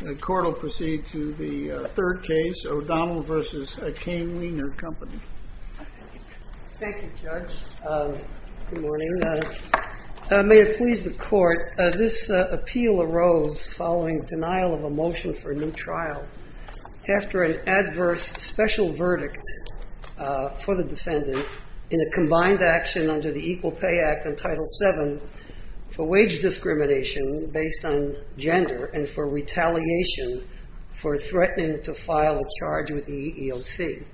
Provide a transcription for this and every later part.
The court will proceed to the third case, O'Donnell v. Caine Weiner Company. Thank you, Judge. Good morning. May it please the court, this appeal arose following denial of a motion for a new trial after an adverse special verdict for the defendant in a combined action under the Equal Pay Act in Title VII for wage discrimination based on gender and for retaliation for threatening to file a charge with the EEOC.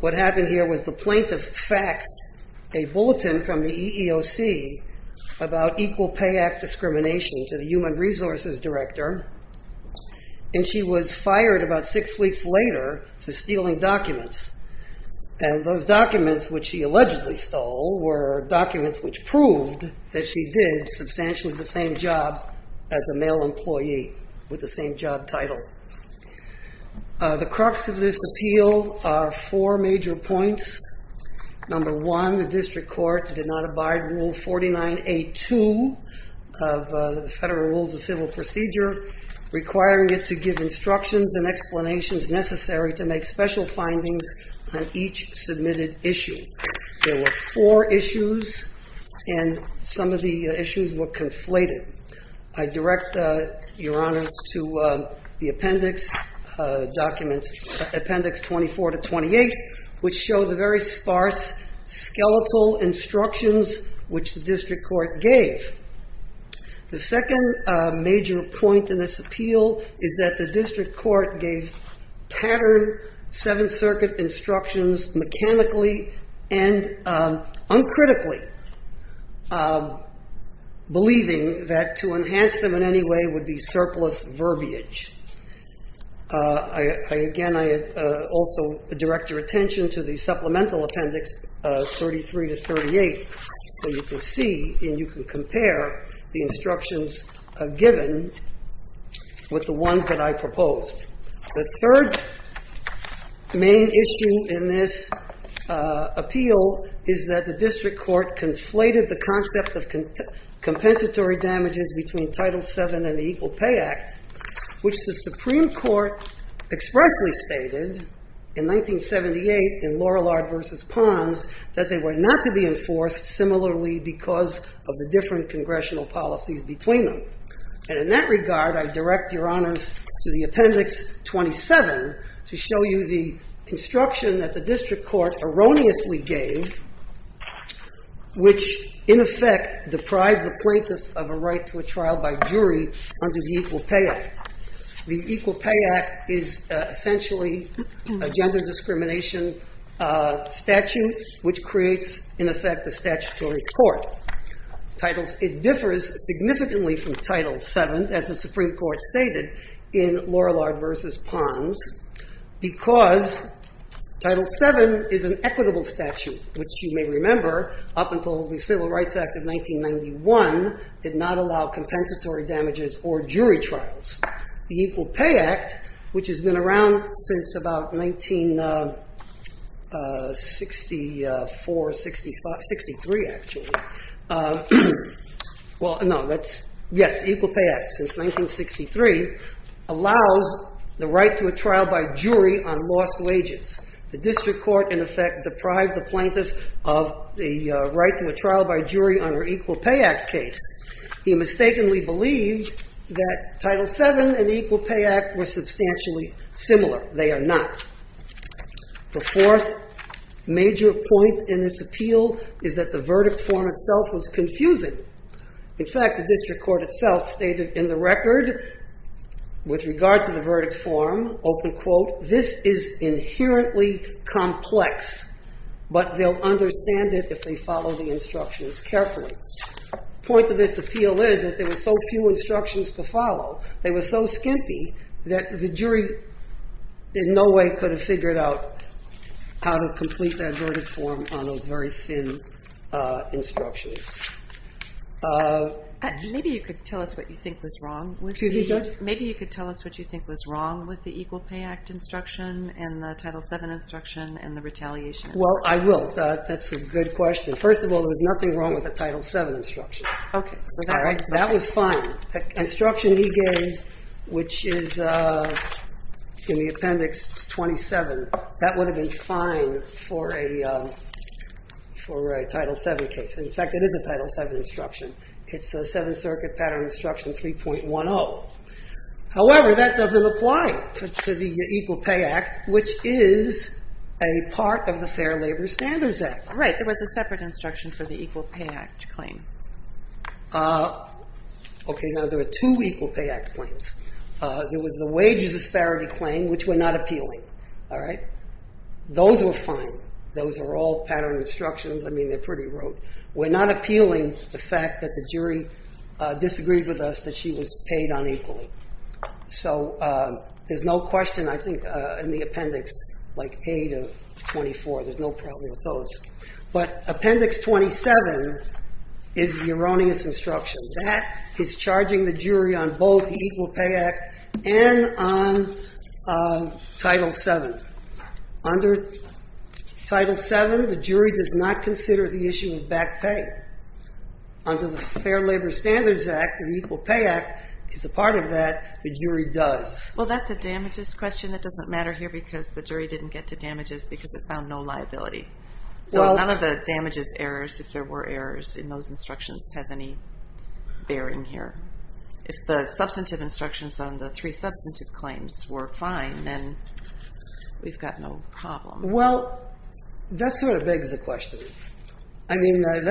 What happened here was the plaintiff faxed a bulletin from the EEOC about Equal Pay Act discrimination to the Human Resources Director and she was fired about six weeks later for stealing documents. And those documents which she allegedly stole were documents which proved that she did substantially the same job as a male employee with the same job title. The crux of this appeal are four major points. Number one, the district court did not abide Rule 49A2 of the Federal Rules of Civil Procedure requiring it to give instructions and explanations necessary to make special findings on each submitted issue. There were four issues and some of the issues were conflated. I direct your honors to the appendix 24 to 28 which show the very sparse skeletal instructions which the district court gave. The second major point in this appeal is that the district court gave pattern Seventh Circuit instructions mechanically and uncritically believing that to enhance them in any way would be surplus verbiage. Again, I also direct your attention to the supplemental appendix 33 to 38 so you can see and you can compare the instructions given with the ones that I proposed. The third main issue in this appeal is that the district court conflated the concept of compensatory damages between Title VII and the Equal Pay Act which the Supreme Court expressly stated in 1978 in Lorillard versus Ponds that they were not to be enforced similarly because of the different congressional policies between them. And in that regard, I direct your honors to the appendix 27 to show you the instruction that the district court erroneously gave which in effect deprived the plaintiff of a right to a trial by jury under the Equal Pay Act. The Equal Pay Act is essentially a gender discrimination statute which creates in effect a statutory court. It differs significantly from Title VII as the Supreme Court stated in Lorillard versus Ponds because Title VII is an equitable statute which you may remember up until the Civil Rights Act of 1991 did not allow compensatory damages or jury trials. The Equal Pay Act which has been around since about 1964, 65, 63 actually. Equal Pay Act since 1963 allows the right to a trial by jury on lost wages. The district court in effect deprived the plaintiff of the right to a trial by jury under Equal Pay Act case. He mistakenly believed that Title VII and Equal Pay Act were substantially similar. They are not. The fourth major point in this appeal is that the verdict form itself was confusing. In fact, the district court itself stated in the record with regard to the verdict form, open quote, this is inherently complex but they'll understand it if they follow the instructions carefully. The point of this appeal is that there were so few instructions to follow. They were so skimpy that the jury in no way could have figured out how to complete that verdict form on those very thin instructions. Maybe you could tell us what you think was wrong with the Equal Pay Act instruction and the Title VII instruction and the retaliation. Well, I will. That's a good question. First of all, there was nothing wrong with the Title VII instruction. Okay. That was fine. The instruction he gave, which is in the Appendix 27, that would have been fine for a Title VII case. In fact, it is a Title VII instruction. It's a Seventh Circuit Pattern Instruction 3.10. However, that doesn't apply to the Equal Pay Act, which is a part of the Fair Labor Standards Act. Right. There was a separate instruction for the Equal Pay Act claim. Okay. Now, there were two Equal Pay Act claims. There was the wages disparity claim, which we're not appealing. All right. Those were fine. Those are all pattern instructions. I mean, they're pretty rude. We're not appealing the fact that the jury disagreed with us that she was paid unequally. So there's no question, I think, in the Appendix 8 or 24. There's no problem with those. But Appendix 27 is the erroneous instruction. That is charging the jury on both the Equal Pay Act and on Title VII. Under Title VII, the jury does not consider the issue of back pay. Under the Fair Labor Standards Act, the Equal Pay Act is a part of that. The jury does. Well, that's a damages question that doesn't matter here because the jury didn't get to damages because it found no liability. So none of the damages errors, if there were errors in those instructions, has any bearing here. If the substantive instructions on the three substantive claims were fine, then we've got no problem. Well, that sort of begs the question. I mean, the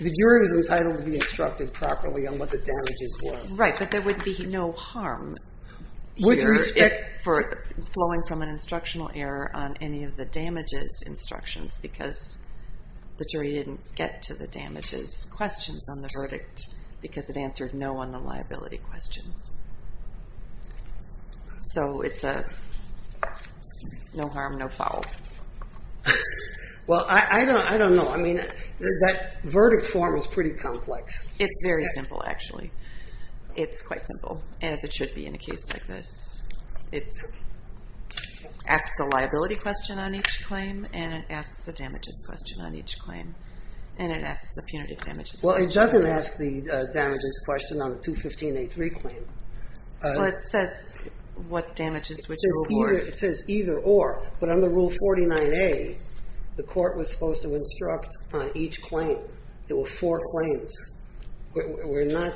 jury was entitled to be instructed properly on what the damages were. Right, but there would be no harm here flowing from an instructional error on any of the damages instructions because the jury didn't get to the damages questions on the verdict because it answered no on the liability questions. So it's a no harm, no foul. Well, I don't know. I mean, that verdict form is pretty complex. It's very simple, actually. It's quite simple, as it should be in a case like this. It asks a liability question on each claim and it asks a damages question on each claim and it asks a punitive damages question. Well, it doesn't ask the damages question on the 215A3 claim. Well, it says what damages, which rule or. It says either or, but under Rule 49A, the court was supposed to instruct on each claim. There were four claims. We're not.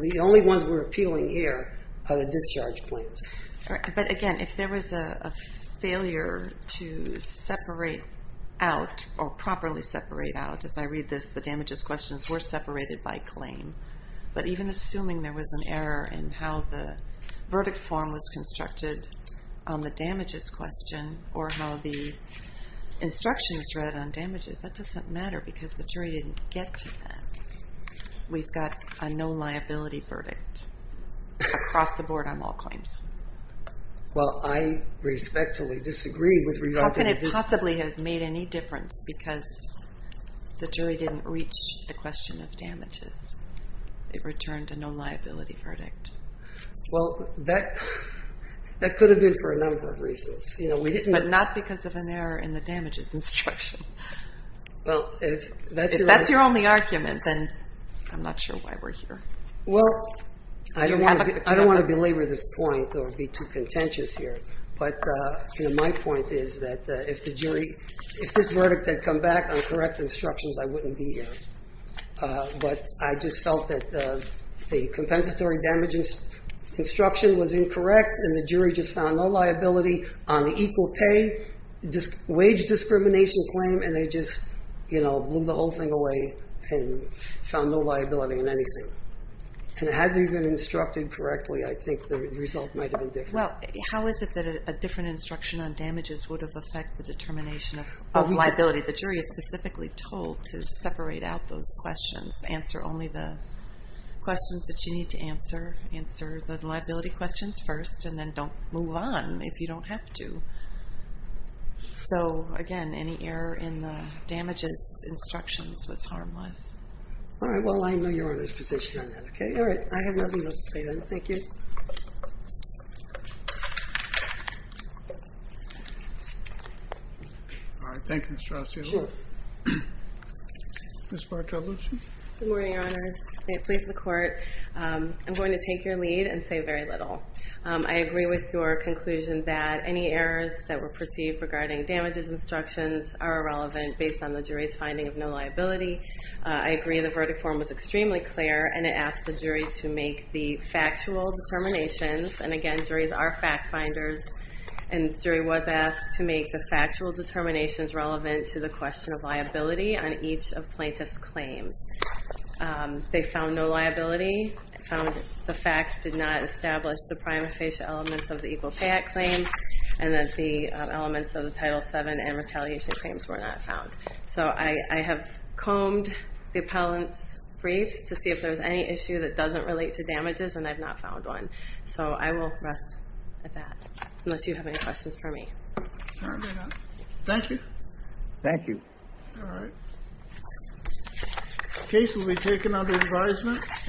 The only ones we're appealing here are the discharge claims. But again, if there was a failure to separate out or properly separate out, as I read this, the damages questions were separated by claim. But even assuming there was an error in how the verdict form was constructed on the damages question or how the instructions read on damages, that doesn't matter because the jury didn't get to that. We've got a no liability verdict across the board on all claims. Well, I respectfully disagree with. How can it possibly have made any difference because the jury didn't reach the question of damages? It returned a no liability verdict. Well, that could have been for a number of reasons. But not because of an error in the damages instruction. Well, if that's your only argument, then I'm not sure why we're here. Well, I don't want to belabor this point or be too contentious here. But my point is that if the jury, if this verdict had come back on correct instructions, I wouldn't be here. But I just felt that the compensatory damages instruction was incorrect and the jury just found no liability on the equal pay, wage discrimination claim, and they just blew the whole thing away and found no liability in anything. And had they been instructed correctly, I think the result might have been different. Well, how is it that a different instruction on damages would have affected the determination of liability? The jury is specifically told to separate out those questions, answer only the questions that you need to answer, answer the liability questions first, and then don't move on if you don't have to. So, again, any error in the damages instructions was harmless. All right. Well, I know Your Honor's position on that, okay? All right. I have nothing else to say then. Thank you. All right. Thank you, Ms. Strauss. You're welcome. Ms. Bartolucci? Good morning, Your Honors. Please, the Court. I'm going to take your lead and say very little. I agree with your conclusion that any errors that were perceived regarding damages instructions are irrelevant based on the jury's finding of no liability. I agree the verdict form was extremely clear, and it asked the jury to make the factual determinations. And, again, juries are fact-finders, and the jury was asked to make the factual determinations relevant to the question of liability on each of plaintiffs' claims. They found no liability. They found the facts did not establish the prima facie elements of the Equal Pay Act claim, and that the elements of the Title VII and retaliation claims were not found. So I have combed the appellant's briefs to see if there was any issue that doesn't relate to damages, and I've not found one. So I will rest at that, unless you have any questions for me. All right. Thank you. Thank you. All right. The case will be taken under advisement.